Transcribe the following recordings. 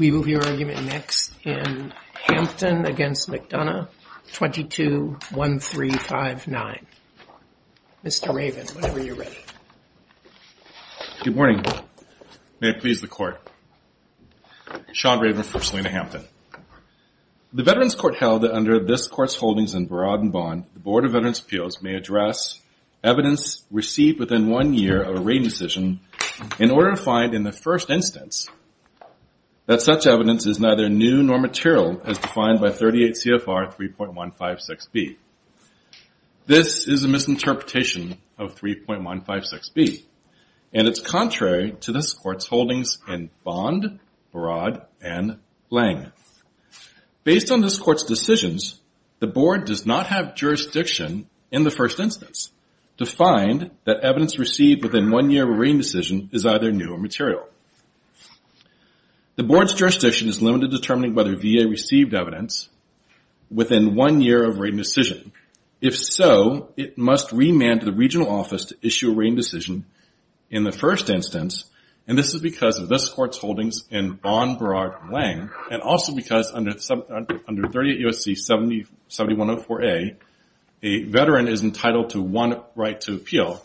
We move your argument next in Hampton v. McDonough, 22-1359. Mr. Raven, whenever you're ready. Good morning. May it please the Court. Sean Raven for Selina Hampton. The Veterans Court held that under this Court's holdings in Barad and Bond, the Board of Veterans' Appeals may address evidence received within one year of a raid decision in order to find in the first instance that such evidence is neither new nor material as defined by 38 CFR 3.156B. This is a misinterpretation of 3.156B, and it's contrary to this Court's holdings in Bond, Barad, and Lange. Based on this Court's decisions, the Board does not have jurisdiction in the first instance to find that evidence received within one year of a raid decision is either new or material. The Board's jurisdiction is limited to determining whether VA received evidence within one year of a raid decision. If so, it must remand to the regional office to issue a raid decision in the first instance, and this is because of this Court's holdings in Bond, Barad, and Lange, and also because under 38 U.S.C. 7104A, a veteran is entitled to one right to appeal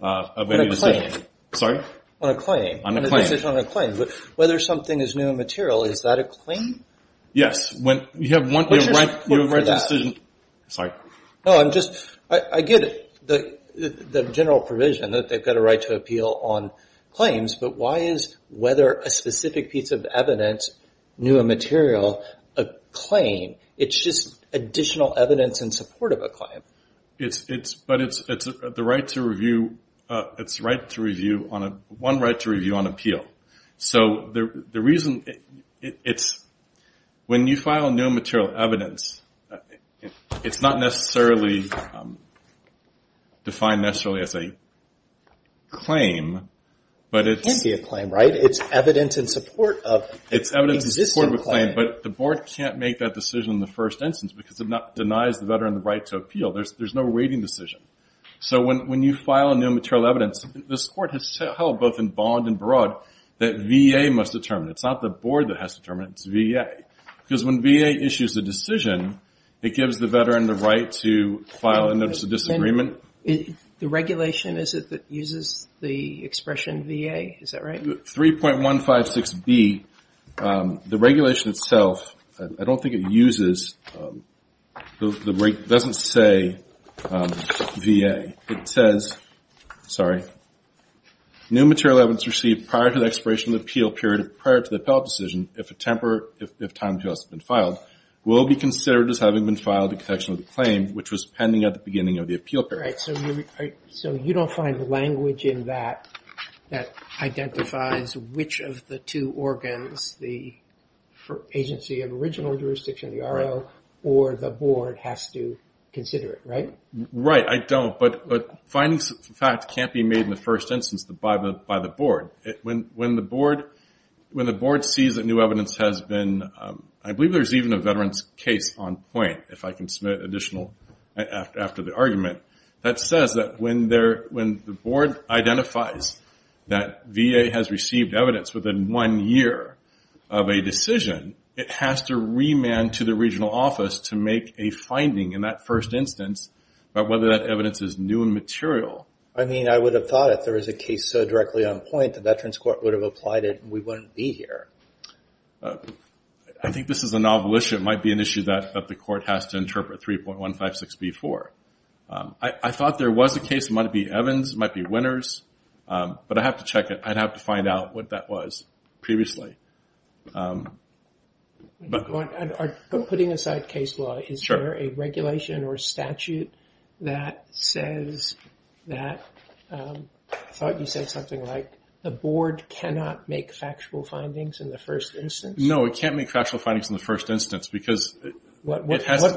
of any decision. On a claim. Sorry? On a claim. On a claim. Whether something is new and material, is that a claim? Yes. You have one right to a decision. Sorry. No, I'm just, I get it, the general provision that they've got a right to appeal on claims, but why is whether a specific piece of evidence, new and material, a claim? It's just additional evidence in support of a claim. But it's the right to review, it's one right to review on appeal. So the reason it's, when you file new and material evidence, it's not necessarily defined necessarily as a claim, but it's. It can be a claim, right? It's evidence in support of an existing claim. It's evidence in support of a claim, but the Board can't make that decision in the first instance because it denies the veteran the right to appeal. There's no raiding decision. So when you file a new and material evidence, this Court has held both in Bond and Barad that VA must determine it. It's not the Board that has to determine it, it's VA. Okay. Because when VA issues a decision, it gives the veteran the right to file a notice of disagreement. The regulation, is it, that uses the expression VA? Is that right? 3.156B, the regulation itself, I don't think it uses, doesn't say VA. It says, sorry, new and material evidence received prior to the expiration of the appeal period, prior to the appeal decision, if time has just been filed, will be considered as having been filed in connection with the claim, which was pending at the beginning of the appeal period. Right. So you don't find language in that that identifies which of the two organs, the agency of original jurisdiction, the RO, or the Board has to consider it, right? Right. I don't. But findings, in fact, can't be made in the first instance by the Board. When the Board sees that new evidence has been, I believe there's even a veteran's case on point, if I can submit additional after the argument, that says that when the Board identifies that VA has received evidence within one year of a decision, it has to remand to the regional office to make a finding in that first instance about whether that evidence is new and material. I mean, I would have thought if there was a case so directly on point, the Veterans Court would have applied it and we wouldn't be here. I think this is a novel issue. It might be an issue that the court has to interpret 3.156B4. I thought there was a case. It might be Evans. It might be Winters. But I'd have to check it. I'd have to find out what that was previously. Putting aside case law, is there a regulation or statute that says that, I thought you said something like the Board cannot make factual findings in the first instance? No, it can't make factual findings in the first instance. What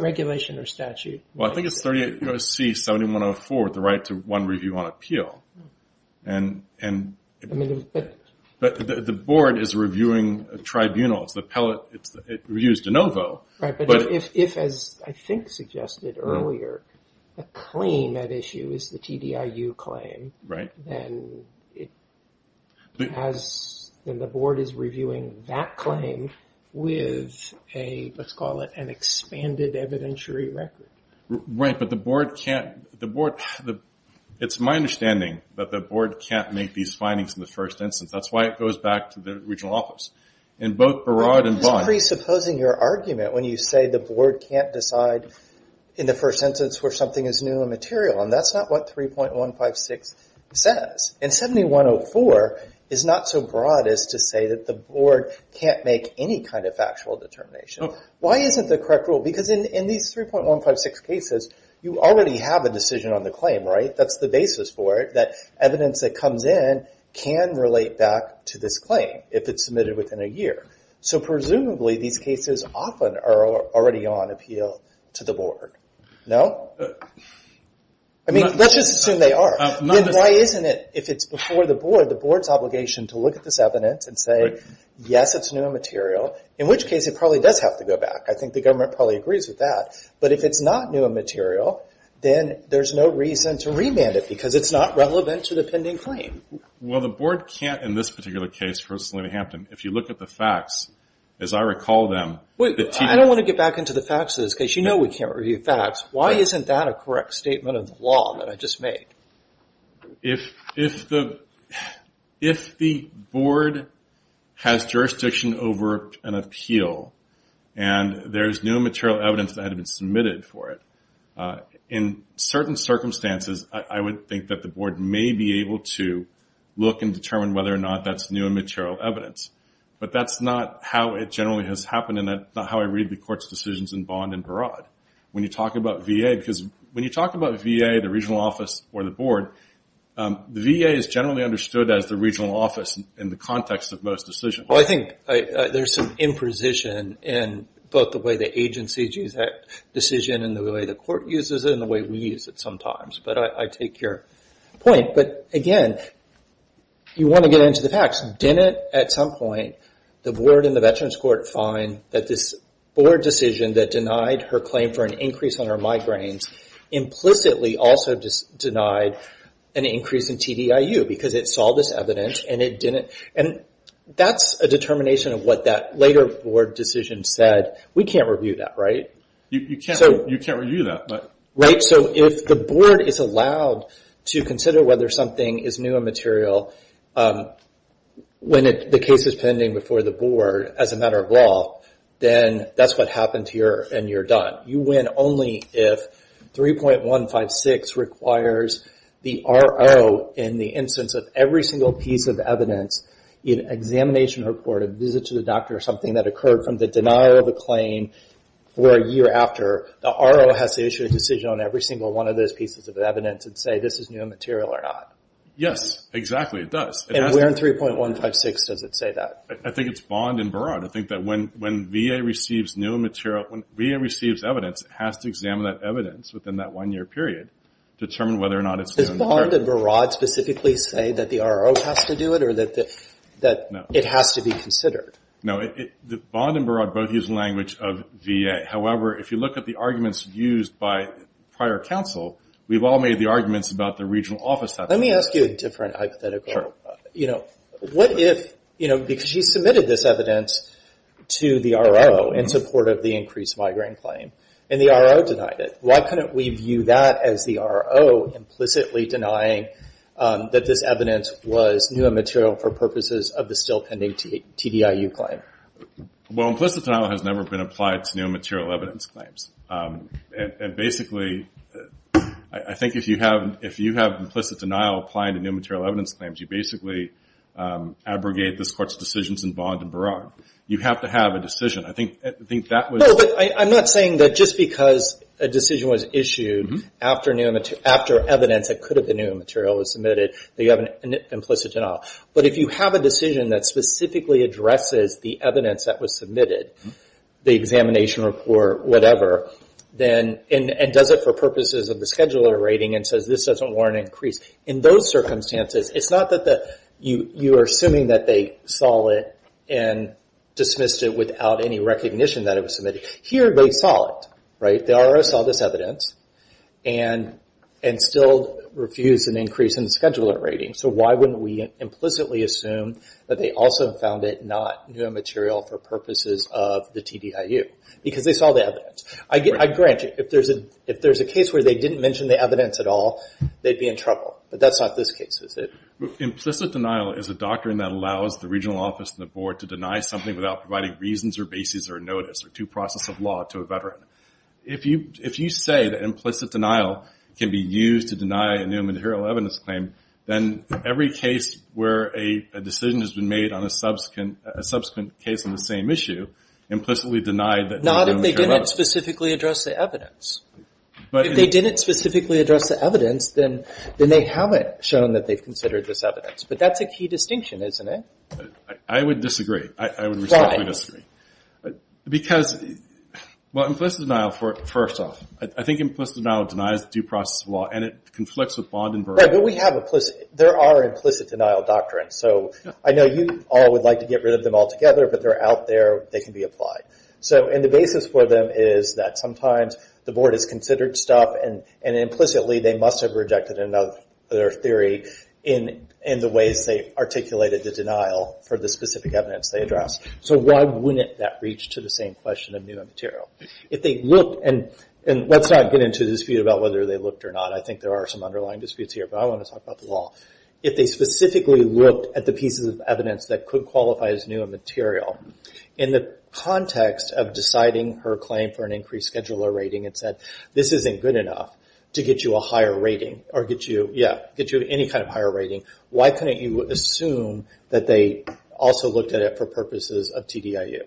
regulation or statute? Well, I think it's 38C7104, the right to one review on appeal. But the Board is reviewing tribunals. It reviews de novo. Right, but if, as I think suggested earlier, a claim at issue is the TDIU claim, then the Board is reviewing that claim with a, let's call it, an expanded evidentiary record. Right, but the Board can't. It's my understanding that the Board can't make these findings in the first instance. That's why it goes back to the regional office. Presupposing your argument when you say the Board can't decide in the first instance where something is new and material, and that's not what 3.156 says. And 7104 is not so broad as to say that the Board can't make any kind of factual determination. Why isn't the correct rule? Because in these 3.156 cases, you already have a decision on the claim, right? That's the basis for it, that evidence that comes in can relate back to this claim, if it's submitted within a year. So presumably these cases often are already on appeal to the Board. No? I mean, let's just assume they are. Then why isn't it, if it's before the Board, the Board's obligation to look at this evidence and say, yes, it's new and material, in which case it probably does have to go back. I think the government probably agrees with that. But if it's not new and material, then there's no reason to remand it because it's not relevant to the pending claim. Well, the Board can't, in this particular case for Selina Hampton, if you look at the facts, as I recall them. Wait, I don't want to get back into the facts of this because you know we can't review facts. Why isn't that a correct statement of the law that I just made? If the Board has jurisdiction over an appeal and there's new and material evidence that had been submitted for it, in certain circumstances, I would think that the Board may be able to look and determine whether or not that's new and material evidence. But that's not how it generally has happened and that's not how I read the Court's decisions in Bond and Barad. When you talk about VA, because when you talk about VA, the regional office or the Board, the VA is generally understood as the regional office in the context of most decisions. Well, I think there's some imprecision in both the way the agencies use that decision and the way the Court uses it and the way we use it sometimes. But I take your point. But again, you want to get into the facts. Didn't, at some point, the Board and the Veterans Court find that this Board decision that denied her claim for an increase on her migraines implicitly also denied an increase in TDIU because it saw this evidence and it didn't? And that's a determination of what that later Board decision said. We can't review that, right? You can't review that. If the Board is allowed to consider whether something is new in material when the case is pending before the Board as a matter of law, then that's what happens here and you're done. You win only if 3.156 requires the RO in the instance of every single piece of evidence, an examination report, a visit to the doctor, or something that occurred from the denial of a claim for a year after. The RO has to issue a decision on every single one of those pieces of evidence and say this is new material or not. Yes, exactly. It does. And where in 3.156 does it say that? I think it's Bond and Barad. I think that when VA receives new material, when VA receives evidence, it has to examine that evidence within that one-year period to determine whether or not it's new material. Does Bond and Barad specifically say that the RO has to do it or that it has to be considered? No. Bond and Barad both use language of VA. However, if you look at the arguments used by prior counsel, we've all made the arguments about the regional office. Let me ask you a different hypothetical. Sure. You know, what if, you know, because she submitted this evidence to the RO in support of the increased migraine claim and the RO denied it. Why couldn't we view that as the RO implicitly denying that this evidence was new material for purposes of the still pending TDIU claim? Well, implicit denial has never been applied to new material evidence claims. And basically, I think if you have implicit denial applying to new material evidence claims, you basically abrogate this court's decisions in Bond and Barad. You have to have a decision. I think that was. No, but I'm not saying that just because a decision was issued after evidence that could have been new material was submitted, that you have an implicit denial. But if you have a decision that specifically addresses the evidence that was submitted, the examination report, whatever, and does it for purposes of the scheduler rating and says this doesn't warrant an increase, in those circumstances, it's not that you are assuming that they saw it and dismissed it without any recognition that it was submitted. Here they saw it, right? The RO saw this evidence and still refused an increase in the scheduler rating. So why wouldn't we implicitly assume that they also found it not new material for purposes of the TDIU? Because they saw the evidence. I grant you, if there's a case where they didn't mention the evidence at all, they'd be in trouble. But that's not this case, is it? Implicit denial is a doctrine that allows the regional office and the board to deny something without providing reasons or basis or notice or due process of law to a veteran. If you say that implicit denial can be used to deny a new material evidence claim, then every case where a decision has been made on a subsequent case on the same issue, implicitly denied that they didn't care about it. Not if they didn't specifically address the evidence. If they didn't specifically address the evidence, then they haven't shown that they've considered this evidence. But that's a key distinction, isn't it? I would disagree. I would respectfully disagree. Why? Because implicit denial, first off, I think implicit denial denies due process of law and it conflicts with There are implicit denial doctrines. I know you all would like to get rid of them altogether, but they're out there. They can be applied. The basis for them is that sometimes the board has considered stuff and implicitly they must have rejected their theory in the ways they articulated the denial for the specific evidence they addressed. Why wouldn't that reach to the same question of new material? Let's not get into the dispute about whether they looked or not. I think there are some underlying disputes here, but I want to talk about the law. If they specifically looked at the pieces of evidence that could qualify as new material, in the context of deciding her claim for an increased scheduler rating and said this isn't good enough to get you a higher rating or get you any kind of higher rating, why couldn't you assume that they also looked at it for purposes of TDIU?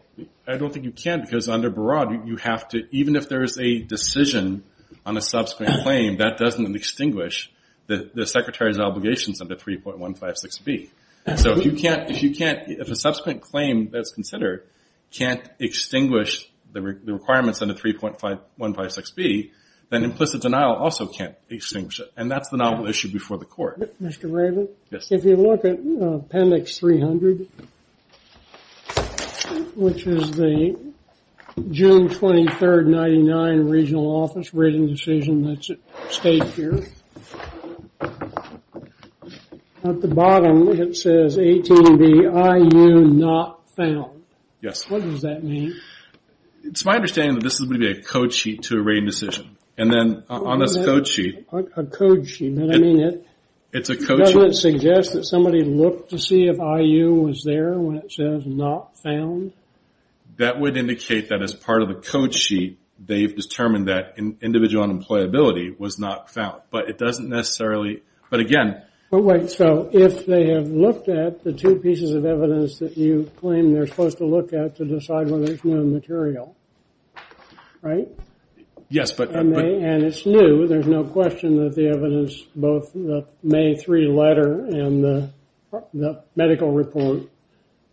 I don't think you can because under Barad, even if there is a decision on a subsequent claim, that doesn't extinguish the secretary's obligations under 3.156B. If a subsequent claim that's considered can't extinguish the requirements under 3.156B, then implicit denial also can't extinguish it, Mr. Raven. If you look at Appendix 300, which is the June 23, 1999, regional office rating decision that's at stake here, at the bottom it says 18BIU not found. What does that mean? It's my understanding that this is going to be a code sheet to a rating decision. A code sheet? Doesn't it suggest that somebody looked to see if IU was there when it says not found? That would indicate that as part of the code sheet, they've determined that individual unemployability was not found. If they have looked at the two pieces of evidence that you claim they're supposed to look at to decide whether it's new material, right? Yes. And it's new. There's no question that the evidence, both the May 3 letter and the medical report,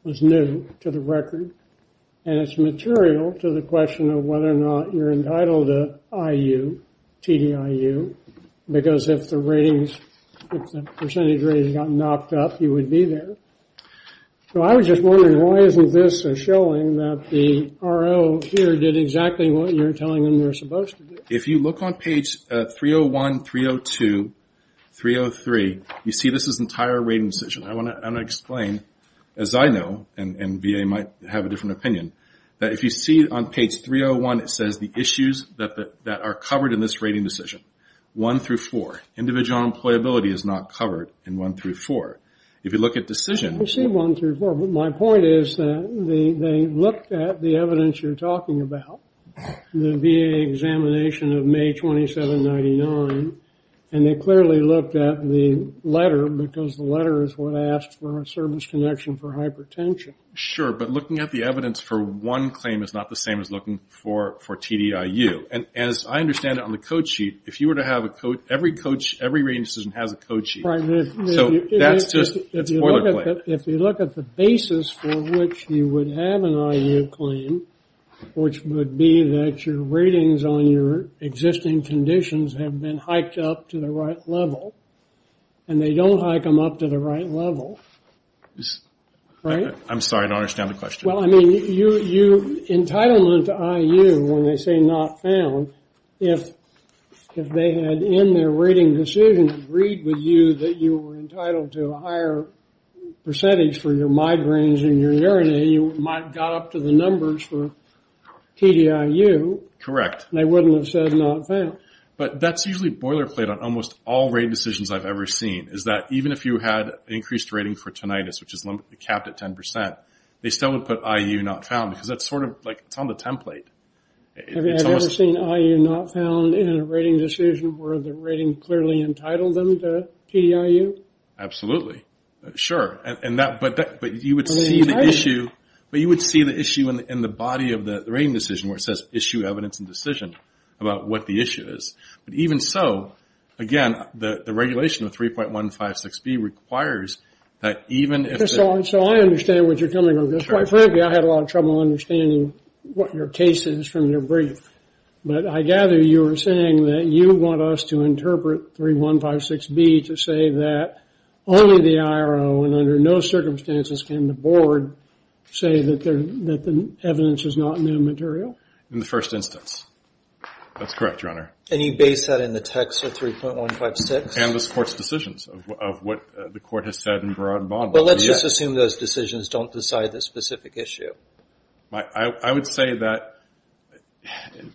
was new to the record. And it's material to the question of whether or not you're entitled to IU, TDIU, because if the ratings, if the percentage ratings got knocked up, you would be there. So I was just wondering, why isn't this showing that the RO here did exactly what you're telling them they're supposed to do? If you look on page 301, 302, 303, you see this entire rating decision. I want to explain, as I know, and VA might have a different opinion, that if you see on page 301, it says the issues that are covered in this rating decision, 1 through 4. Individual unemployability is not covered in 1 through 4. If you look at decisions. I see 1 through 4. My point is that they looked at the evidence you're talking about, the VA examination of May 27, 1999, and they clearly looked at the letter, because the letter is what asked for a service connection for hypertension. Sure, but looking at the evidence for one claim is not the same as looking for TDIU. And as I understand it on the code sheet, if you were to have a code, every rating decision has a code sheet. So that's just a spoiler claim. If you look at the basis for which you would have an IU claim, which would be that your ratings on your existing conditions have been hiked up to the right level, and they don't hike them up to the right level. I'm sorry, I don't understand the question. Entitlement to IU, when they say not found, if they had in their rating decision agreed with you that you were entitled to a higher percentage for your migraines and your urinary, you might have got up to the numbers for TDIU. Correct. And they wouldn't have said not found. But that's usually boilerplate on almost all rate decisions I've ever seen, is that even if you had increased rating for tinnitus, which is limited to 10%, they still would put IU not found, because that's sort of like it's on the template. Have you ever seen IU not found in a rating decision where the rating clearly entitled them to TDIU? Absolutely. Sure. But you would see the issue in the body of the rating decision where it says issue evidence and decision about what the issue is. But even so, again, the regulation of 3.156B requires that even if the – So I understand what you're coming over. Quite frankly, I had a lot of trouble understanding what your case is from your brief. But I gather you're saying that you want us to interpret 3.156B to say that only the IRO and under no circumstances can the board say that the evidence is not new material? In the first instance. That's correct, Your Honor. And you base that in the text of 3.156? And this court's decisions of what the court has said in broad bond. But let's just assume those decisions don't decide the specific issue. I would say that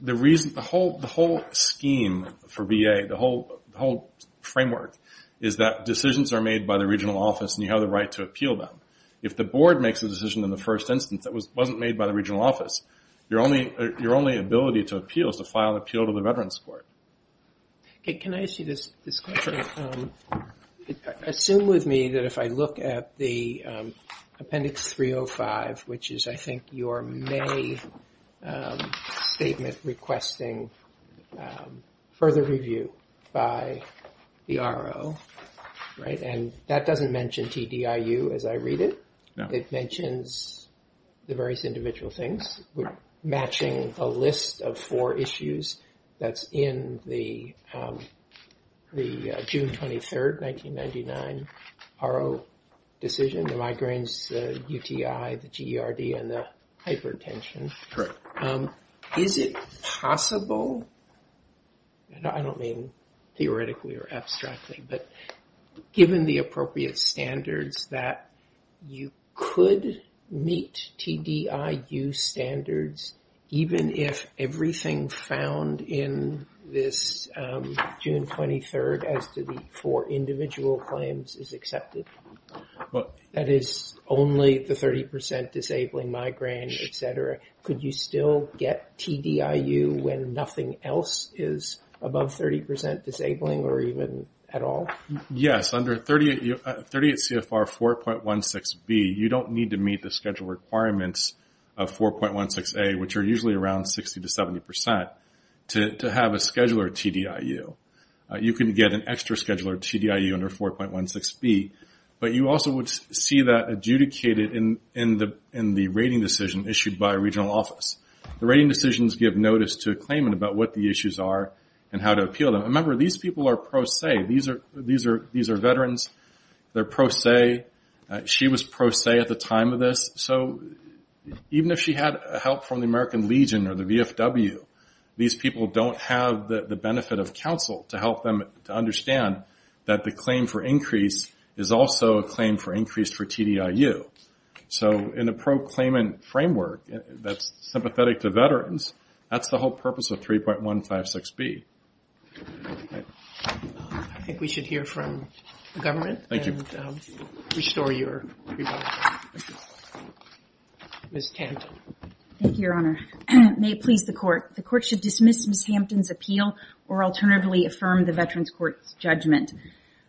the whole scheme for VA, the whole framework, is that decisions are made by the regional office and you have the right to appeal them. If the board makes a decision in the first instance that wasn't made by the regional office, your only ability to appeal is to file an appeal to the Veterans Court. Can I ask you this question? Assume with me that if I look at the Appendix 305, which is I think your May statement requesting further review by the IRO, and that doesn't mention TDIU as I read it. It mentions the various individual things. We're matching a list of four issues that's in the June 23, 1999 IRO decision, the migraines, the UTI, the GERD, and the hypertension. Correct. Is it possible, and I don't mean theoretically or abstractly, but given the appropriate standards that you could meet TDIU standards even if everything found in this June 23 as to the four individual claims is accepted? That is only the 30% disabling migraine, et cetera. Could you still get TDIU when nothing else is above 30% disabling or even at all? Yes. Under 38 CFR 4.16B, you don't need to meet the schedule requirements of 4.16A, which are usually around 60% to 70% to have a scheduler TDIU. You can get an extra scheduler TDIU under 4.16B, but you also would see that adjudicated in the rating decision issued by a regional office. The rating decisions give notice to a claimant about what the issues are and how to appeal them. Remember, these people are pro se. These are veterans. They're pro se. She was pro se at the time of this. So even if she had help from the American Legion or the VFW, these people don't have the benefit of counsel to help them to understand that the claim for increase is also a claim for increase for TDIU. So in a pro-claimant framework that's sympathetic to veterans, that's the whole purpose of 3.156B. I think we should hear from the government and restore your rebuttal. Ms. Hampton. Thank you, Your Honor. May it please the court, the court should dismiss Ms. Hampton's appeal or alternatively affirm the veterans court's judgment.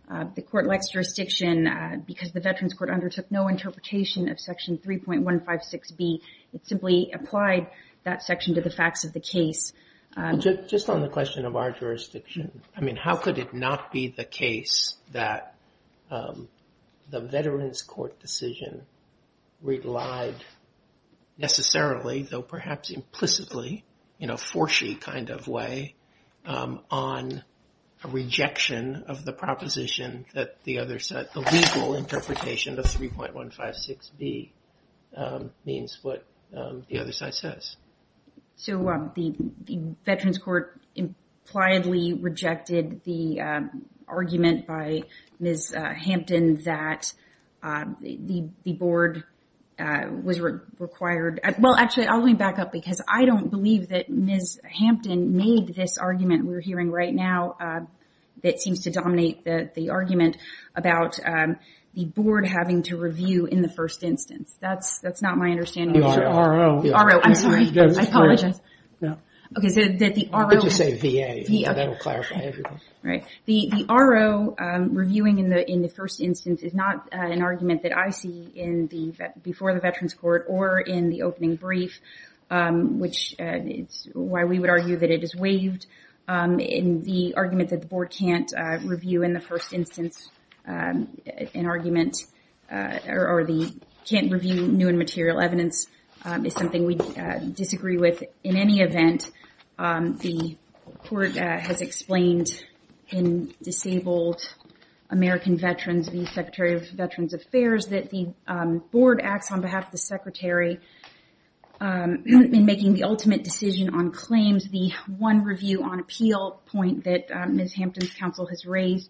The court likes jurisdiction because the veterans court undertook no interpretation of Section 3.156B. It simply applied that section to the facts of the case. Just on the question of our jurisdiction, I mean, how could it not be the case that the veterans court decision relied necessarily, though perhaps implicitly, you know, for she kind of way on a rejection of the proposition that the other set the legal interpretation of 3.156B means what the other side says. So the veterans court impliedly rejected the argument by Ms. Hampton that the board was required. Well, actually, let me back up because I don't believe that Ms. Hampton made this argument we're hearing right now that seems to dominate the argument about the board having to review in the first instance. That's not my understanding. The RO. The RO, I'm sorry. I apologize. Okay, so that the RO. You could just say VA. VA. That will clarify everything. Right. The RO reviewing in the first instance is not an argument that I see in the, before the veterans court or in the opening brief, which is why we would argue that it is waived in the argument that the board can't review in the first instance. An argument or the can't review new and material evidence is something we disagree with. In any event, the court has explained in Disabled American Veterans, the Secretary of Veterans Affairs, that the board acts on behalf of the secretary in making the ultimate decision on claims. The one review on appeal point that Ms. Hampton's counsel has raised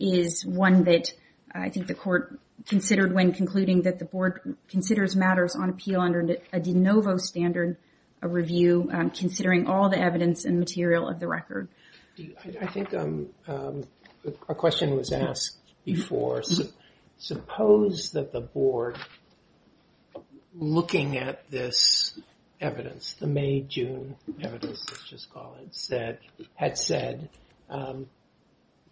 is one that I think the court considered when concluding that the board considers matters on appeal under a de novo standard of review, considering all the evidence and material of the record. I think a question was asked before. Suppose that the board, looking at this evidence, the May-June evidence, let's just call it, had said,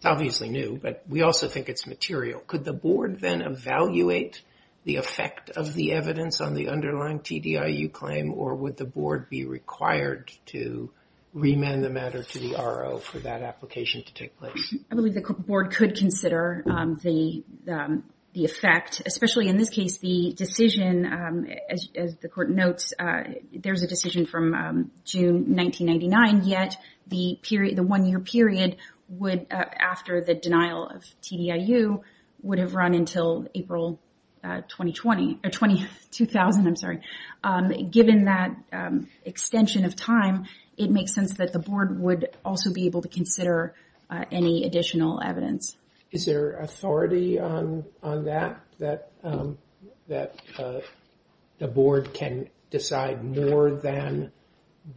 obviously new, but we also think it's material. Could the board then evaluate the effect of the evidence on the underlying TDIU claim or would the board be required to remand the matter to the RO for that application to take place? I believe the board could consider the effect, especially in this case, the decision, as the court notes, there's a decision from June 1999, yet the one-year period would, after the denial of TDIU, would have run until April 2020, or 2000, I'm sorry. Given that extension of time, it makes sense that the board would also be able to consider any additional evidence. Is there authority on that, that the board can decide more than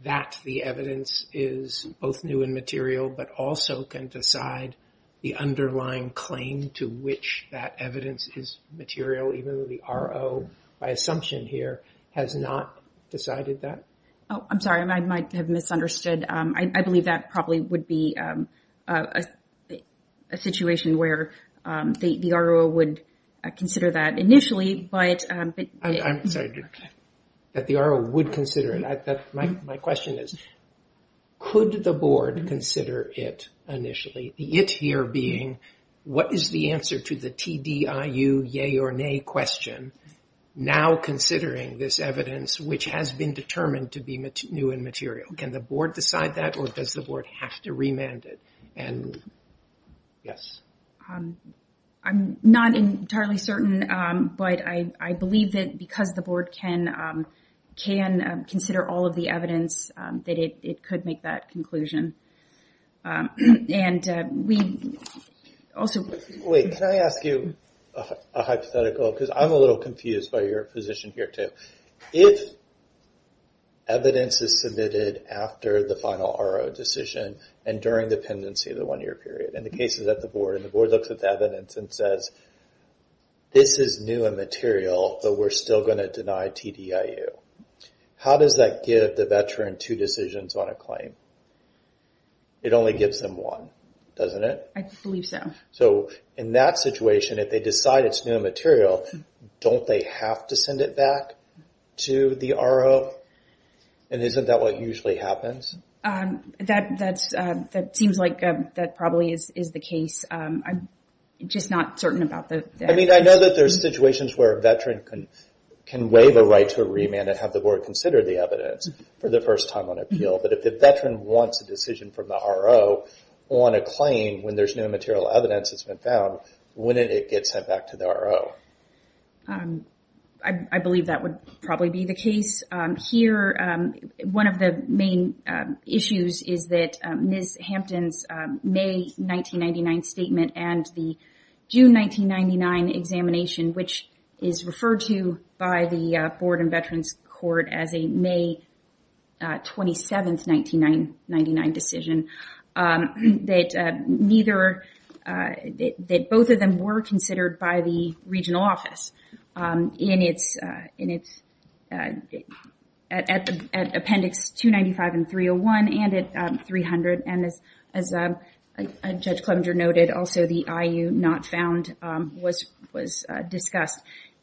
that the evidence is both new and material, but also can decide the underlying claim to which that evidence is material, even though the RO, by assumption here, has not decided that? I'm sorry, I might have misunderstood. I believe that probably would be a situation where the RO would consider that initially, but... I'm sorry, that the RO would consider it. My question is, could the board consider it initially? The it here being, what is the answer to the TDIU yay or nay question, now considering this evidence which has been determined to be new and material? Can the board decide that, or does the board have to remand it? Yes. I'm not entirely certain, but I believe that because the board can consider all of the evidence, that it could make that conclusion. And we also... Wait, can I ask you a hypothetical? Because I'm a little confused by your position here, too. If evidence is submitted after the final RO decision and during the pendency, the one-year period, and the case is at the board, and the board looks at the evidence and says, this is new and material, but we're still going to deny TDIU. How does that give the veteran two decisions on a claim? It only gives them one, doesn't it? I believe so. So in that situation, if they decide it's new and material, don't they have to send it back to the RO? And isn't that what usually happens? That seems like that probably is the case. I'm just not certain about the... I mean, I know that there's situations where a veteran can waive a right to a remand and have the board consider the evidence for the first time on appeal. But if the veteran wants a decision from the RO on a claim when there's no material evidence that's been found, wouldn't it get sent back to the RO? I believe that would probably be the case. One of the main issues is that Ms. Hampton's May 1999 statement and the June 1999 examination, which is referred to by the Board and Veterans Court as a May 27, 1999 decision, that both of them were considered by the regional office at Appendix 295 and 301 and at 300. And as Judge Clemenger noted, also the IU not found was discussed.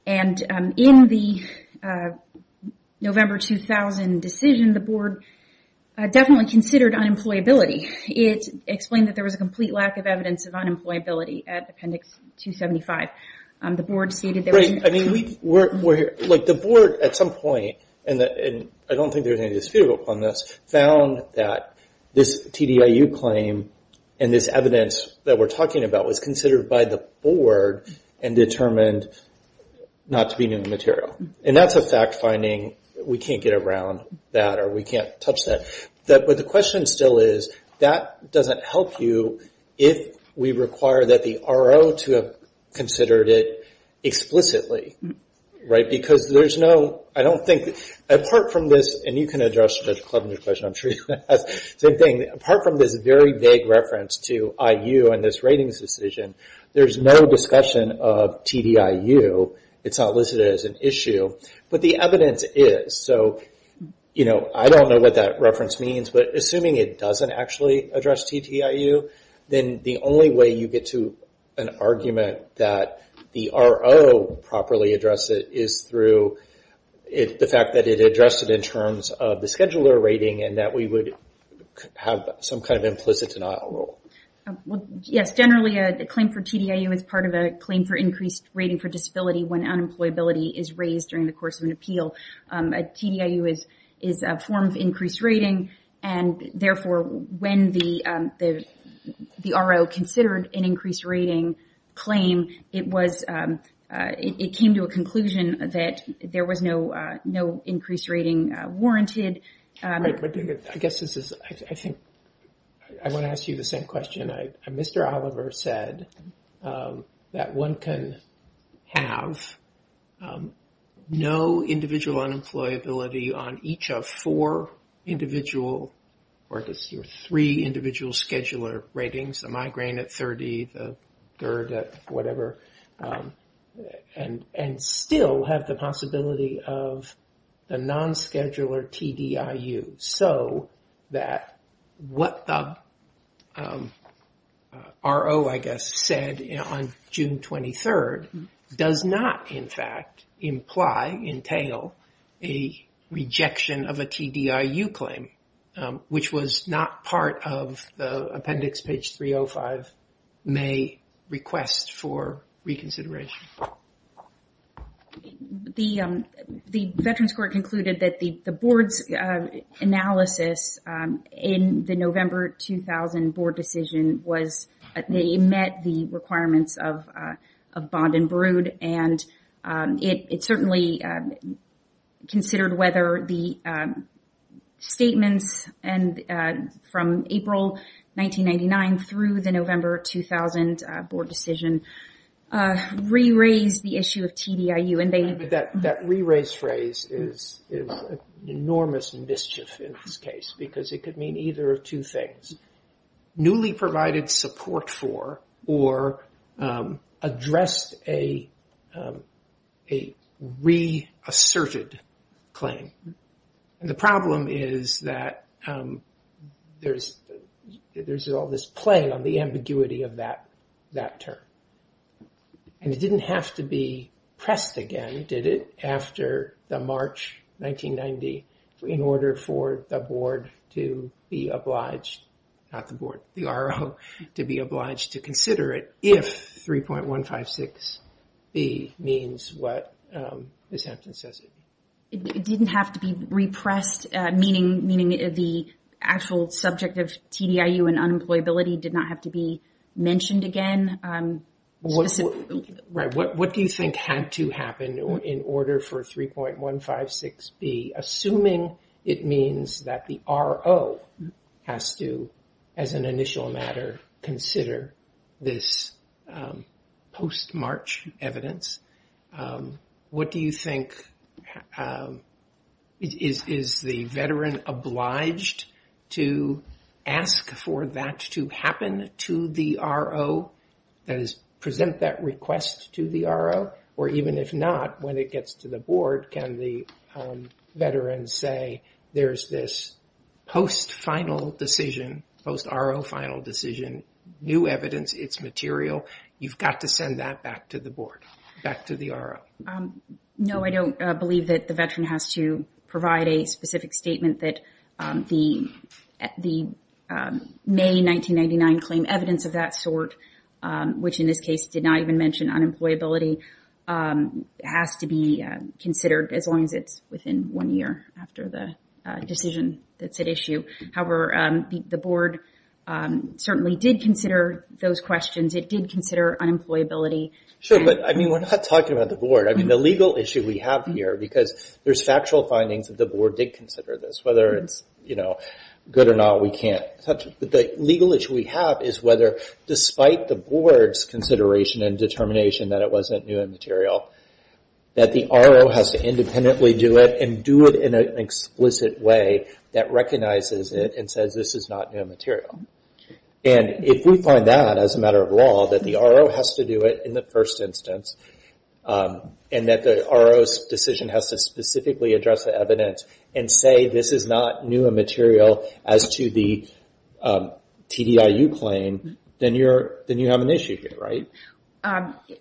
And in the November 2000 decision, the Board definitely considered unemployability. It explained that there was a complete lack of evidence of unemployability at Appendix 275. The Board stated that... Right, I mean, the Board at some point, and I don't think there's any dispute upon this, found that this TDIU claim and this evidence that we're talking about was considered by the Board and determined not to be new material. And that's a fact finding. We can't get around that or we can't touch that. But the question still is, that doesn't help you if we require that the RO to have considered it explicitly, right? Because there's no... I don't think... Apart from this, and you can address Judge Clemenger's question, I'm sure you can. Same thing. Apart from this very vague reference to IU in this ratings decision, there's no discussion of TDIU. It's not listed as an issue. But the evidence is. So I don't know what that reference means, but assuming it doesn't actually address TDIU, then the only way you get to an argument that the RO properly addressed it is through the fact that it addressed it in terms of the scheduler rating and that we would have some kind of implicit denial rule. Yes. Generally, a claim for TDIU is part of a claim for increased rating for disability when unemployability is raised during the course of an appeal. A TDIU is a form of increased rating. And therefore, when the RO considered an increased rating claim, it came to a conclusion that there was no increased rating warranted. I guess this is... I think I want to ask you the same question. Mr. Oliver said that one can have no individual unemployability on each of four individual or three individual scheduler ratings, the migraine at 30, the GERD at whatever, and still have the possibility of a non-scheduler TDIU. So that what the RO, I guess, said on June 23rd does not, in fact, imply, entail a rejection of a TDIU claim, which was not part of the appendix page 305 may request for reconsideration. The Veterans Court concluded that the board's analysis in the November 2000 board decision was that they met the requirements of bond and brood. And it certainly considered whether the statements from April 1999 through the November 2000 board decision re-raise the issue of TDIU. That re-raise phrase is an enormous mischief in this case, because it could mean either of two things. Newly provided support for or addressed a re-asserted claim. The problem is that there's all this play on the ambiguity of that term. And it didn't have to be pressed again, did it? After the March 1990, in order for the board to be obliged, not the board, the RO, to be obliged to consider it if 3.156B means what the sentence says it means. It didn't have to be repressed, meaning the actual subject of TDIU and unemployability did not have to be mentioned again. What do you think had to happen in order for 3.156B, assuming it means that the RO has to, as an initial matter, consider this post-March evidence? What do you think, is the veteran obliged to ask for that to happen to the RO? That is, present that request to the RO? Or even if not, when it gets to the board, can the veteran say, there's this post-final decision, post-RO final decision, new evidence, it's material, you've got to send that back to the board, back to the RO? No, I don't believe that the veteran has to provide a specific statement that the May 1999 claim, evidence of that sort, which in this case did not even mention unemployability, has to be considered as long as it's within one year after the decision that's at issue. However, the board certainly did consider those questions. It did consider unemployability. Sure, but we're not talking about the board. The legal issue we have here, because there's factual findings that the board did consider this, whether it's good or not, we can't touch it. But the legal issue we have is whether, despite the board's consideration and determination that it wasn't new and material, that the RO has to independently do it, and do it in an explicit way that recognizes it and says this is not new and material. And if we find that as a matter of law, that the RO has to do it in the first instance, and that the RO's decision has to specifically address the evidence and say this is not new and material as to the TDIU claim, then you have an issue here, right?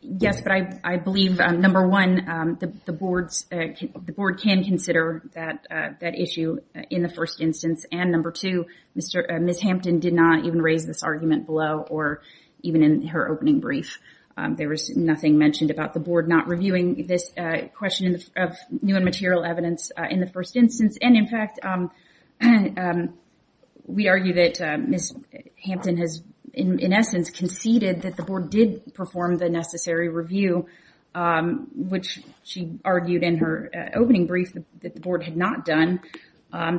Yes, but I believe, number one, the board can consider that issue in the first instance, and number two, Ms. Hampton did not even raise this argument below or even in her opening brief. There was nothing mentioned about the board not reviewing this question of new and material evidence in the first instance, and in fact, we argue that Ms. Hampton has, in essence, conceded that the board did perform the necessary review, which she argued in her opening brief that the board had not done.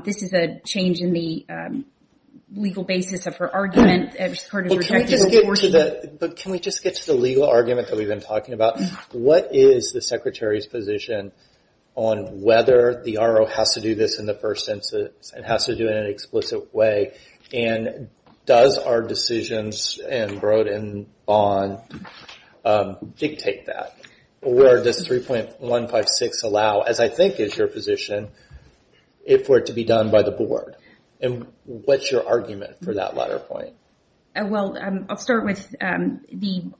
This is a change in the legal basis of her argument as part of the rejected report. But can we just get to the legal argument that we've been talking about? What is the Secretary's position on whether the RO has to do this in the first instance and has to do it in an explicit way, and does our decisions in Broad and Vaughan dictate that? Where does 3.156 allow, as I think is your position, for it to be done by the board? And what's your argument for that latter point? Well, I'll start with the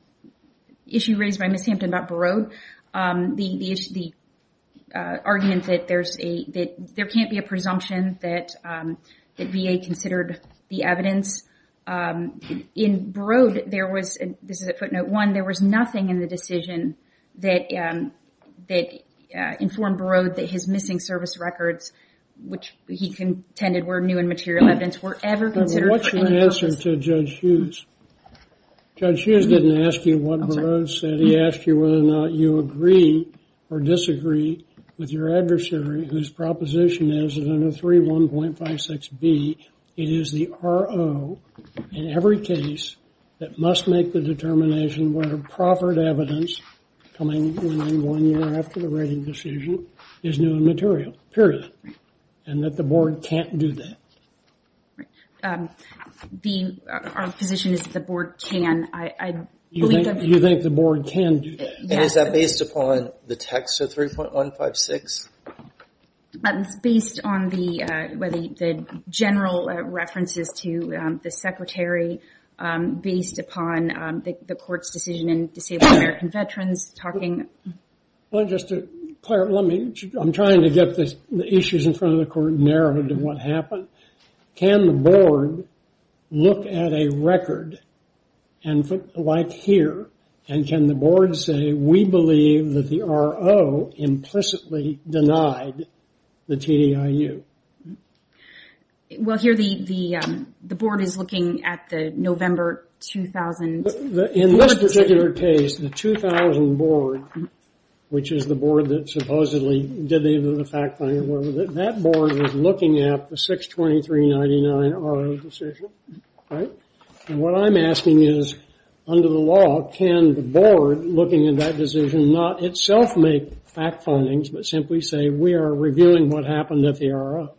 issue raised by Ms. Hampton about Broad. The argument that there can't be a presumption that VA considered the evidence. In Broad, there was nothing in the decision that informed Broad that his missing service records, which he contended were new and material evidence, were ever considered. What's your answer to Judge Hughes? Judge Hughes didn't ask you what Broad said. He asked you whether or not you agree or disagree with your adversary, whose proposition is that under 3.156B, it is the RO in every case that must make the determination whether proffered evidence coming in one year after the rating decision is new and material, period, and that the board can't do that. Our position is that the board can. You think the board can do that? And is that based upon the text of 3.156? It's based on the general references to the secretary, based upon the court's decision in Disabled American Veterans talking. Claire, I'm trying to get the issues in front of the court narrowed to what happened. Can the board look at a record like here, and can the board say we believe that the RO implicitly denied the TDIU? Well, here the board is looking at the November 2000 board decision. In this particular case, the 2000 board, which is the board that supposedly did the fact-finding, that board was looking at the 62399 RO decision, right? And what I'm asking is, under the law, can the board, looking at that decision, not itself make fact-findings, but simply say we are reviewing what happened at the RO,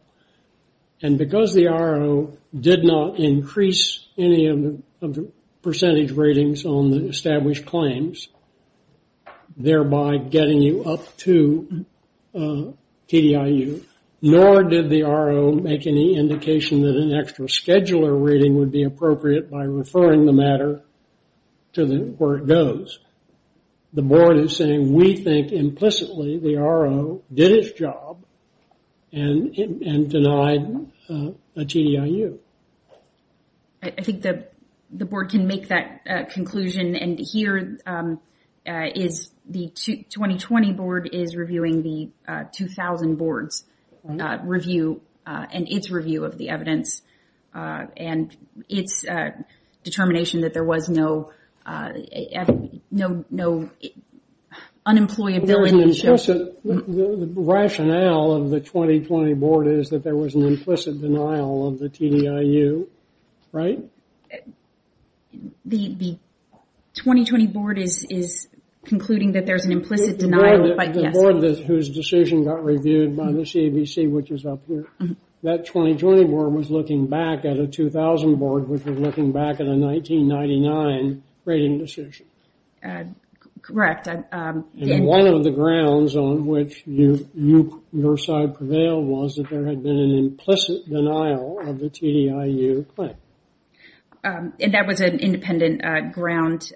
and because the RO did not increase any of the percentage ratings on the established claims, thereby getting you up to TDIU, nor did the RO make any indication that an extra scheduler rating would be appropriate by referring the matter to where it goes. The board is saying we think implicitly the RO did its job and denied a TDIU. I think the board can make that conclusion, and here the 2020 board is reviewing the 2000 board's review and its review of the evidence, and its determination that there was no unemployability. The rationale of the 2020 board is that there was an implicit denial of the TDIU, right? The 2020 board is concluding that there's an implicit denial. The board whose decision got reviewed by the CBC, which is up here, that 2020 board was looking back at a 2000 board, which was looking back at a 1999 rating decision. Correct. And one of the grounds on which your side prevailed was that there had been an implicit denial of the TDIU claim. And that was an independent ground?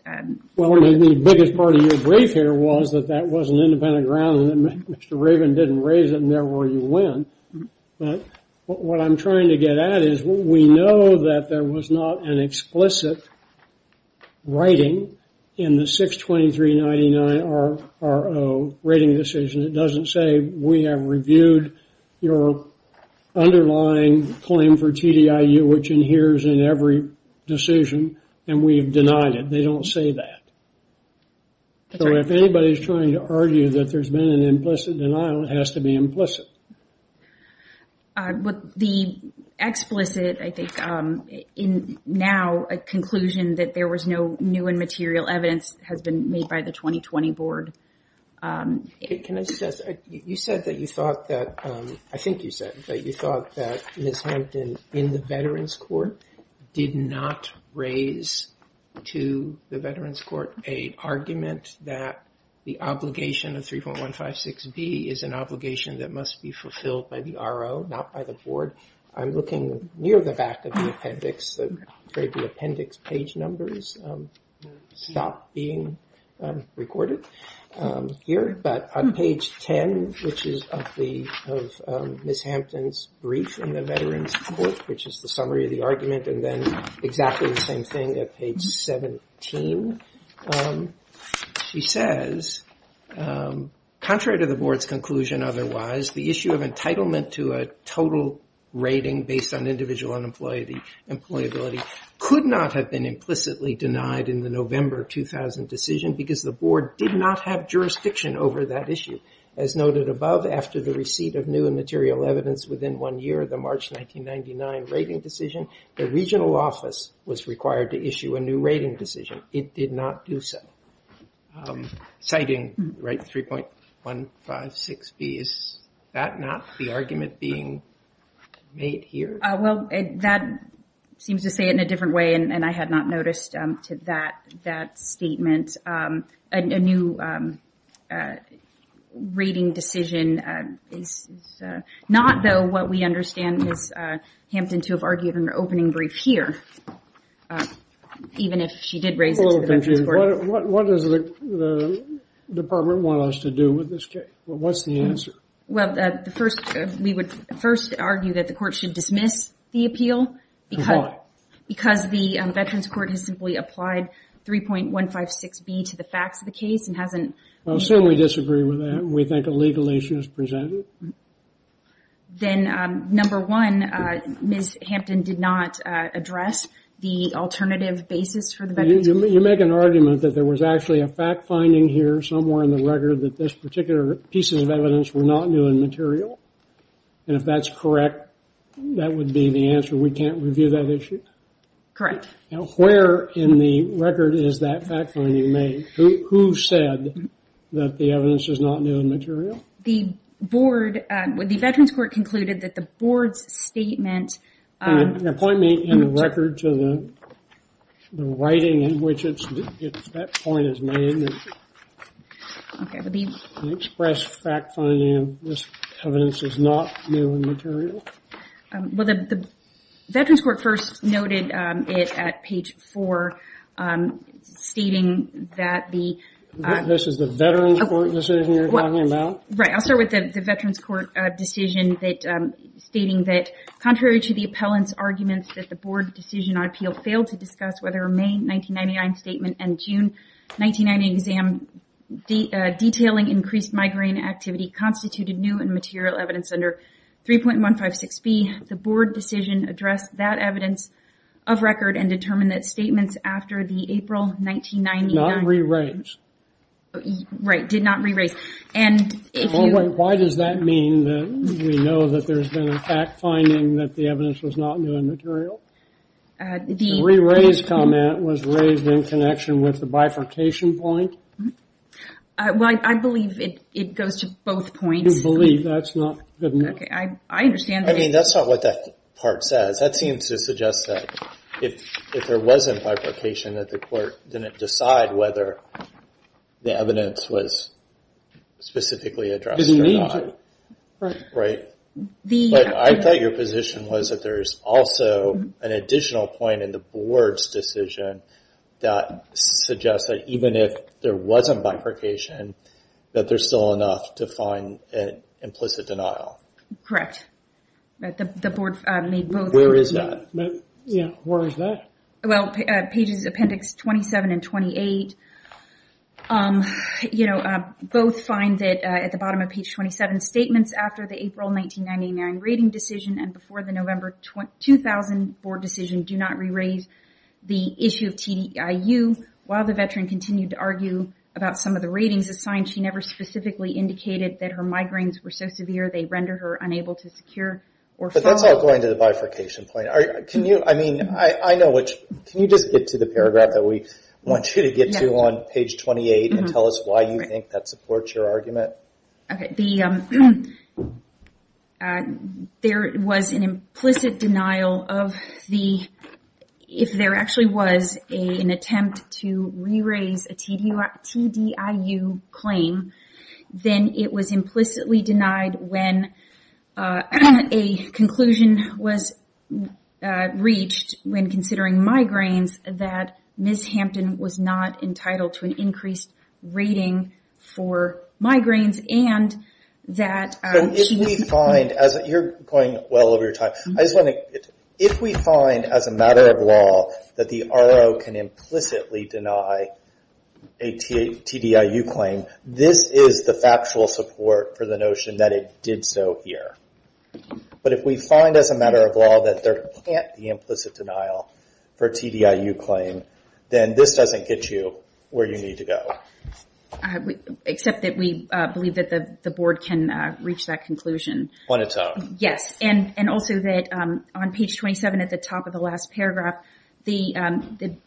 Well, the biggest part of your brief here was that that was an independent ground and that Mr. Raven didn't raise it, and therefore you win, but what I'm trying to get at is we know that there was not an explicit rating in the 62399 R.O. rating decision. It doesn't say we have reviewed your underlying claim for TDIU, which adheres in every decision, and we have denied it. They don't say that. So if anybody's trying to argue that there's been an implicit denial, it has to be implicit. The explicit, I think, in now, a conclusion that there was no new and material evidence has been made by the 2020 board. Can I suggest, you said that you thought that, I think you said, that you thought that Ms. Hampton in the Veterans Court did not raise to the Veterans Court a argument that the obligation of 3.156B is an obligation that must be fulfilled by the R.O., not by the board. I'm looking near the back of the appendix. I'm afraid the appendix page numbers stopped being recorded here. But on page 10, which is of Ms. Hampton's brief in the Veterans Court, which is the summary of the argument, and then exactly the same thing at page 17, she says, contrary to the board's conclusion otherwise, the issue of entitlement to a total rating based on individual employability could not have been implicitly denied in the November 2000 decision because the board did not have jurisdiction over that issue. As noted above, after the receipt of new and material evidence within one year, the March 1999 rating decision, the regional office was required to issue a new rating decision. It did not do so. Citing 3.156B, is that not the argument being made here? Well, that seems to say it in a different way, and I had not noticed that statement. A new rating decision is not, though, what we understand Ms. Hampton to have argued in her opening brief here, even if she did raise it to the Veterans Court. What does the department want us to do with this case? What's the answer? Well, we would first argue that the court should dismiss the appeal because the Veterans Court has simply applied 3.156B to the facts of the case and hasn't Well, certainly disagree with that. We think a legal issue is presented. Then, number one, Ms. Hampton did not address the alternative basis for the Veterans Court. You make an argument that there was actually a fact-finding here somewhere in the record that this particular piece of evidence were not new and material, and if that's correct, that would be the answer. We can't review that issue? Correct. Now, where in the record is that fact-finding made? Who said that the evidence is not new and material? The board, the Veterans Court concluded that the board's statement Point me in the record to the writing in which that point is made. The express fact-finding of this evidence is not new and material? Well, the Veterans Court first noted it at page 4, stating that the This is the Veterans Court decision you're talking about? Right. I'll start with the Veterans Court decision stating that contrary to the appellant's arguments that the board decision on appeal failed to discuss whether a May 1999 statement and June 1990 exam detailing increased migraine activity constituted new and material evidence under 3.156B, the board decision addressed that evidence of record and determined that statements after the April 1999 Not re-raised? Right, did not re-raise. Why does that mean that we know that there's been a fact-finding that the evidence was not new and material? The re-raised comment was raised in connection with the bifurcation point? Well, I believe it goes to both points. You believe? That's not good enough. Okay, I understand. I mean, that's not what that part says. That seems to suggest that if there was a bifurcation, that the court didn't decide whether the evidence was specifically addressed or not. Didn't need to. Right. I thought your position was that there's also an additional point in the board's decision that suggests that even if there was a bifurcation, that there's still enough to find an implicit denial. Correct. Where is that? Yeah, where is that? Well, pages appendix 27 and 28, you know, both find that at the bottom of page 27, statements after the April 1999 rating decision and before the November 2000 board decision do not re-raise the issue of TDIU. While the veteran continued to argue about some of the ratings assigned, she never specifically indicated that her migraines were so severe they render her unable to secure or follow. But that's all going to the bifurcation point. Can you, I mean, I know which, can you just get to the paragraph that we want you to get to on page 28 and tell us why you think that supports your argument? Okay. There was an implicit denial of the, if there actually was an attempt to re-raise a TDIU claim, then it was implicitly denied when a conclusion was reached when considering migraines that Ms. Hampton was not entitled to an increased rating for migraines and that she- But if we find, you're going well over your time, I just want to, if we find as a matter of law that the RO can implicitly deny a TDIU claim, this is the factual support for the notion that it did so here. But if we find as a matter of law that there can't be implicit denial for a TDIU claim, then this doesn't get you where you need to go. Except that we believe that the Board can reach that conclusion. On its own. Yes, and also that on page 27 at the top of the last paragraph, the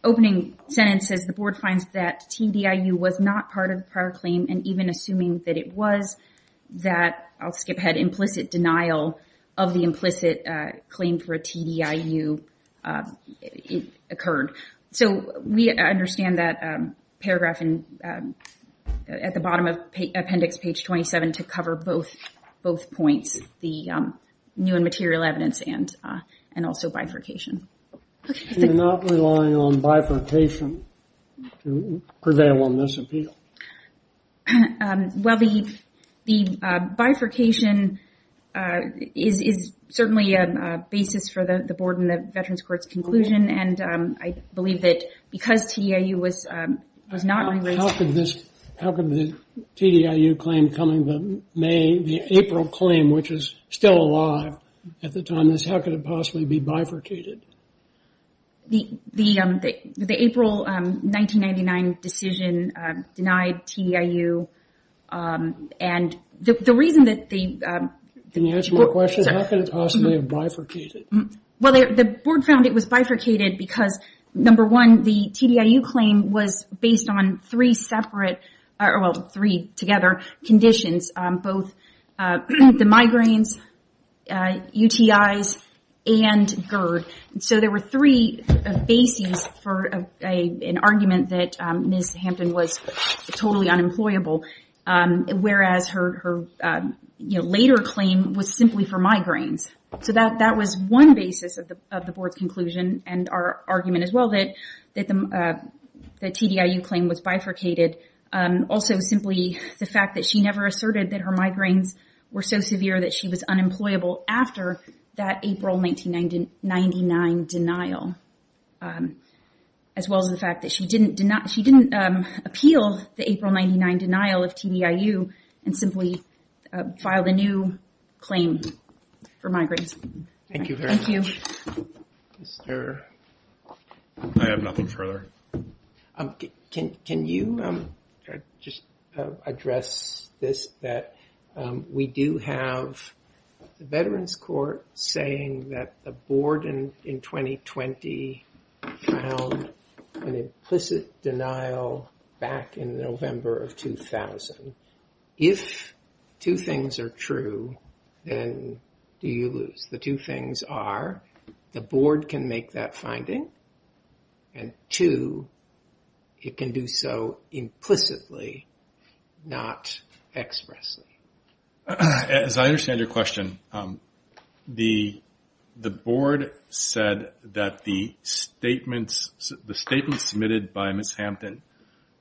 opening sentence says the Board finds that TDIU was not part of the prior claim and even assuming that it was, that, I'll skip ahead, implicit denial of the implicit claim for a TDIU occurred. So we understand that paragraph at the bottom of appendix page 27 to cover both points, the new and material evidence and also bifurcation. You're not relying on bifurcation to prevail on this appeal? Well, the bifurcation is certainly a basis for the Board and the Veterans Court's conclusion and I believe that because TDIU was not related. How could the TDIU claim coming, the April claim, which is still alive at the time, how could it possibly be bifurcated? The April 1999 decision denied TDIU and the reason that the... Can you answer my question? How could it possibly have bifurcated? Well, the Board found it was bifurcated because, number one, the TDIU claim was based on three separate, well, three together conditions, both the migraines, UTIs, and GERD. So there were three bases for an argument that Ms. Hampton was totally unemployable, whereas her later claim was simply for migraines. So that was one basis of the Board's conclusion and our argument as well that the TDIU claim was bifurcated. Also simply the fact that she never asserted that her migraines were so severe that she was unemployable after that April 1999 denial, as well as the fact that she didn't appeal the April 1999 denial of TDIU and simply filed a new claim for migraines. Thank you very much. Thank you. Is there... I have nothing further. Can you just address this, that we do have the Veterans Court saying that the Board in 2020 found an implicit denial back in November of 2000. If two things are true, then do you lose? The two things are the Board can make that finding and two, it can do so implicitly, not expressly. As I understand your question, the Board said that the statements submitted by Ms. Hampton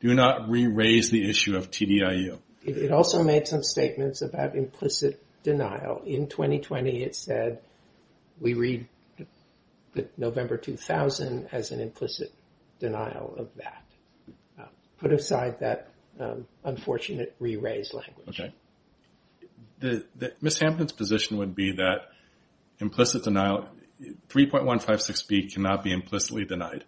do not re-raise the issue of TDIU. It also made some statements about implicit denial. In 2020, it said we read November 2000 as an implicit denial of that. Put aside that unfortunate re-raise language. Okay. Ms. Hampton's position would be that implicit denial, 3.156B cannot be implicitly denied.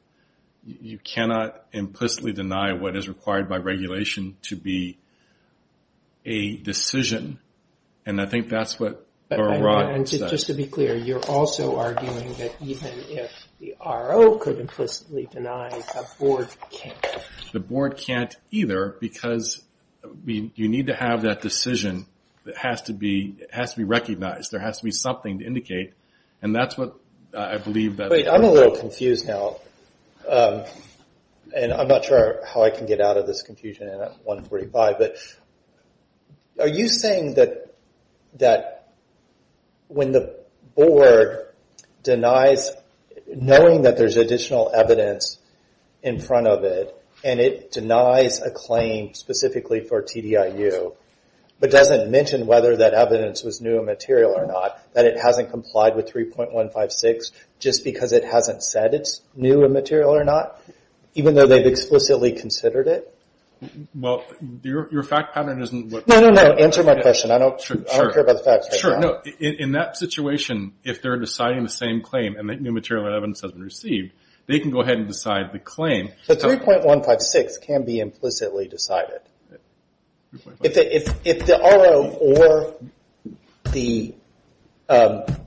You cannot implicitly deny what is required by regulation to be a decision. And I think that's what... Just to be clear, you're also arguing that even if the RO could implicitly deny, the Board can't. The Board can't either because you need to have that decision. It has to be recognized. There has to be something to indicate. And that's what I believe that... I'm a little confused now. And I'm not sure how I can get out of this confusion at 1.45. Are you saying that when the Board denies, knowing that there's additional evidence in front of it, and it denies a claim specifically for TDIU, but doesn't mention whether that evidence was new and material or not, that it hasn't complied with 3.156 just because it hasn't said it's new and material or not, even though they've explicitly considered it? Well, your fact pattern isn't what... No, no, no, answer my question. I don't care about the facts right now. Sure, no. In that situation, if they're deciding the same claim and the new material evidence has been received, they can go ahead and decide the claim. But 3.156 can be implicitly decided. If the RO or the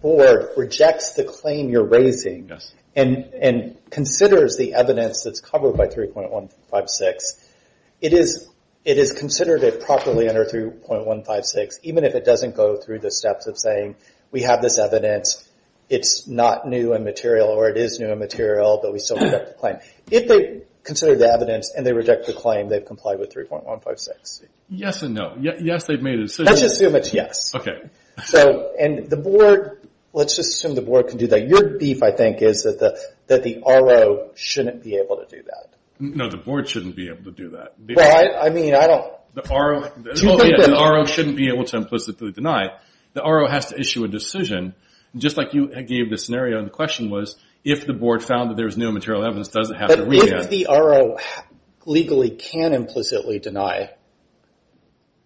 Board rejects the claim you're raising and considers the evidence that's covered by 3.156, it is considered it properly under 3.156, even if it doesn't go through the steps of saying, we have this evidence, it's not new and material, or it is new and material, but we still reject the claim. If they consider the evidence and they reject the claim, they've complied with 3.156. Yes and no. Yes, they've made a decision. Let's just assume it's yes. Okay. And the Board, let's just assume the Board can do that. Your beef, I think, is that the RO shouldn't be able to do that. No, the Board shouldn't be able to do that. Well, I mean, I don't... The RO shouldn't be able to implicitly deny. The RO has to issue a decision. Just like you gave the scenario and the question was, if the Board found that there was new and material evidence, does it have to read it? But if the RO legally can implicitly deny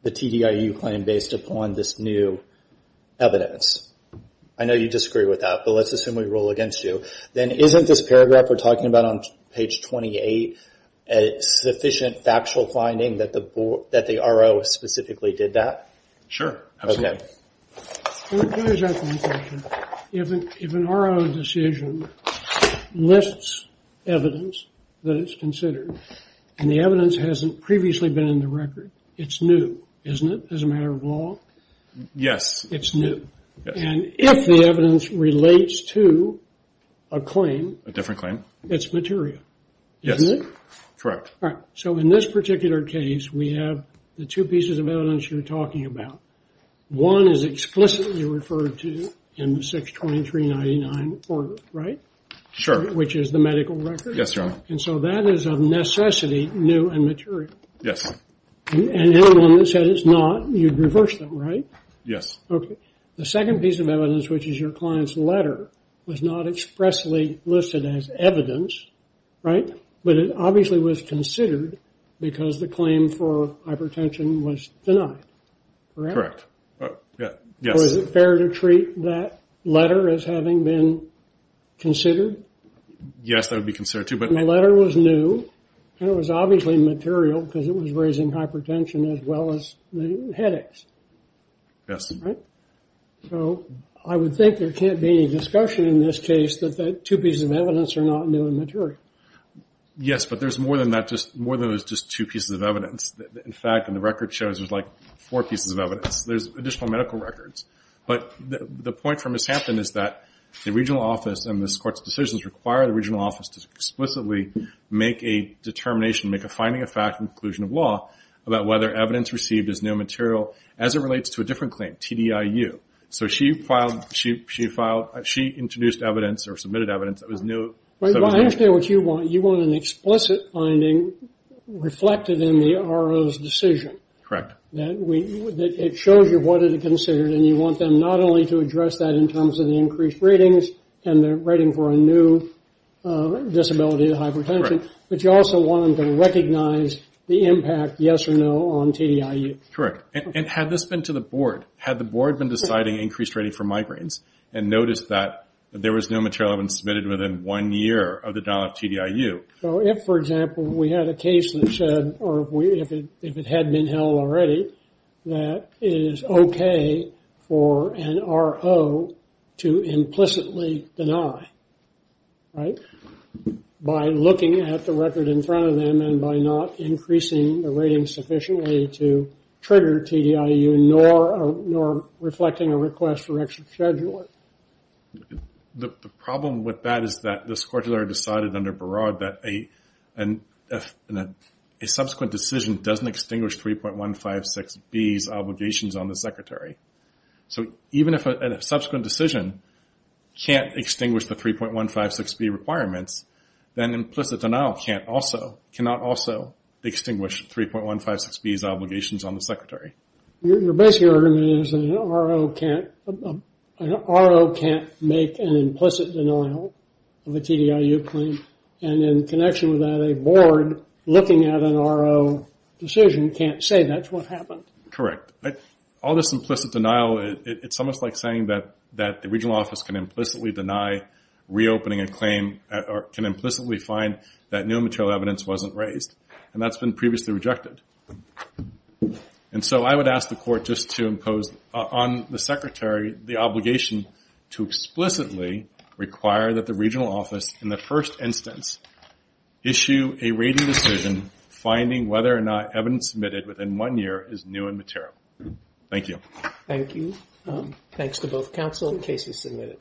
the TDIU claim based upon this new evidence, I know you disagree with that, but let's assume we rule against you, then isn't this paragraph we're talking about on page 28 a sufficient factual finding that the RO specifically did that? Sure, absolutely. Okay. Here's my question. If an RO decision lists evidence that it's considered and the evidence hasn't previously been in the record, it's new, isn't it, as a matter of law? Yes. It's new. Yes. And if the evidence relates to a claim... A different claim. ...it's material, isn't it? Yes, correct. All right. So in this particular case, we have the two pieces of evidence you're talking about. One is explicitly referred to in the 62399 order, right? Sure. Which is the medical record. Yes, Your Honor. And so that is of necessity new and material. Yes. And anyone that said it's not, you'd reverse them, right? Yes. Okay. The second piece of evidence, which is your client's letter, was not expressly listed as evidence, right? But it obviously was considered because the claim for hypertension was denied. Correct? Correct. Yes. So is it fair to treat that letter as having been considered? Yes, that would be considered too, but... The letter was new, and it was obviously material because it was raising hypertension as well as the headaches. Yes. Right? So I would think there can't be any discussion in this case that the two pieces of evidence are not new and material. Yes, but there's more than that, more than there's just two pieces of evidence. In fact, the record shows there's, like, four pieces of evidence. There's additional medical records. But the point from Ms. Hampton is that the regional office and this Court's decisions require the regional office to explicitly make a determination, make a finding of fact and conclusion of law about whether evidence received is new material as it relates to a different claim, TDIU. So she introduced evidence or submitted evidence that was new. I understand what you want. You want an explicit finding reflected in the RO's decision. Correct. It shows you what it considered, and you want them not only to address that in terms of the increased ratings and the rating for a new disability, hypertension, but you also want them to recognize the impact, yes or no, on TDIU. Correct. And had this been to the board, had the board been deciding increased rating for migraines and noticed that there was no material that had been submitted within one year of the denial of TDIU? So if, for example, we had a case that said, or if it had been held already, that it is okay for an RO to implicitly deny, right, by looking at the record in front of them and by not increasing the rating sufficiently to trigger TDIU, nor reflecting a request for extra scheduling. The problem with that is that the SCORTULA decided under Baraud that a subsequent decision doesn't extinguish 3.156B's obligations on the Secretary. So even if a subsequent decision can't extinguish the 3.156B requirements, then implicit denial can't also, cannot also extinguish 3.156B's obligations on the Secretary. Your basic argument is that an RO can't make an implicit denial of a TDIU claim, and in connection with that, a board looking at an RO decision can't say that's what happened. Correct. All this implicit denial, it's almost like saying that the regional office can implicitly deny reopening a claim, or can implicitly find that new and material evidence wasn't raised, and that's been previously rejected. And so I would ask the Court just to impose on the Secretary the obligation to explicitly require that the regional office in the first instance issue a rating decision finding whether or not evidence submitted within one year is new and material. Thank you. Thank you. Thanks to both counsel and cases submitted.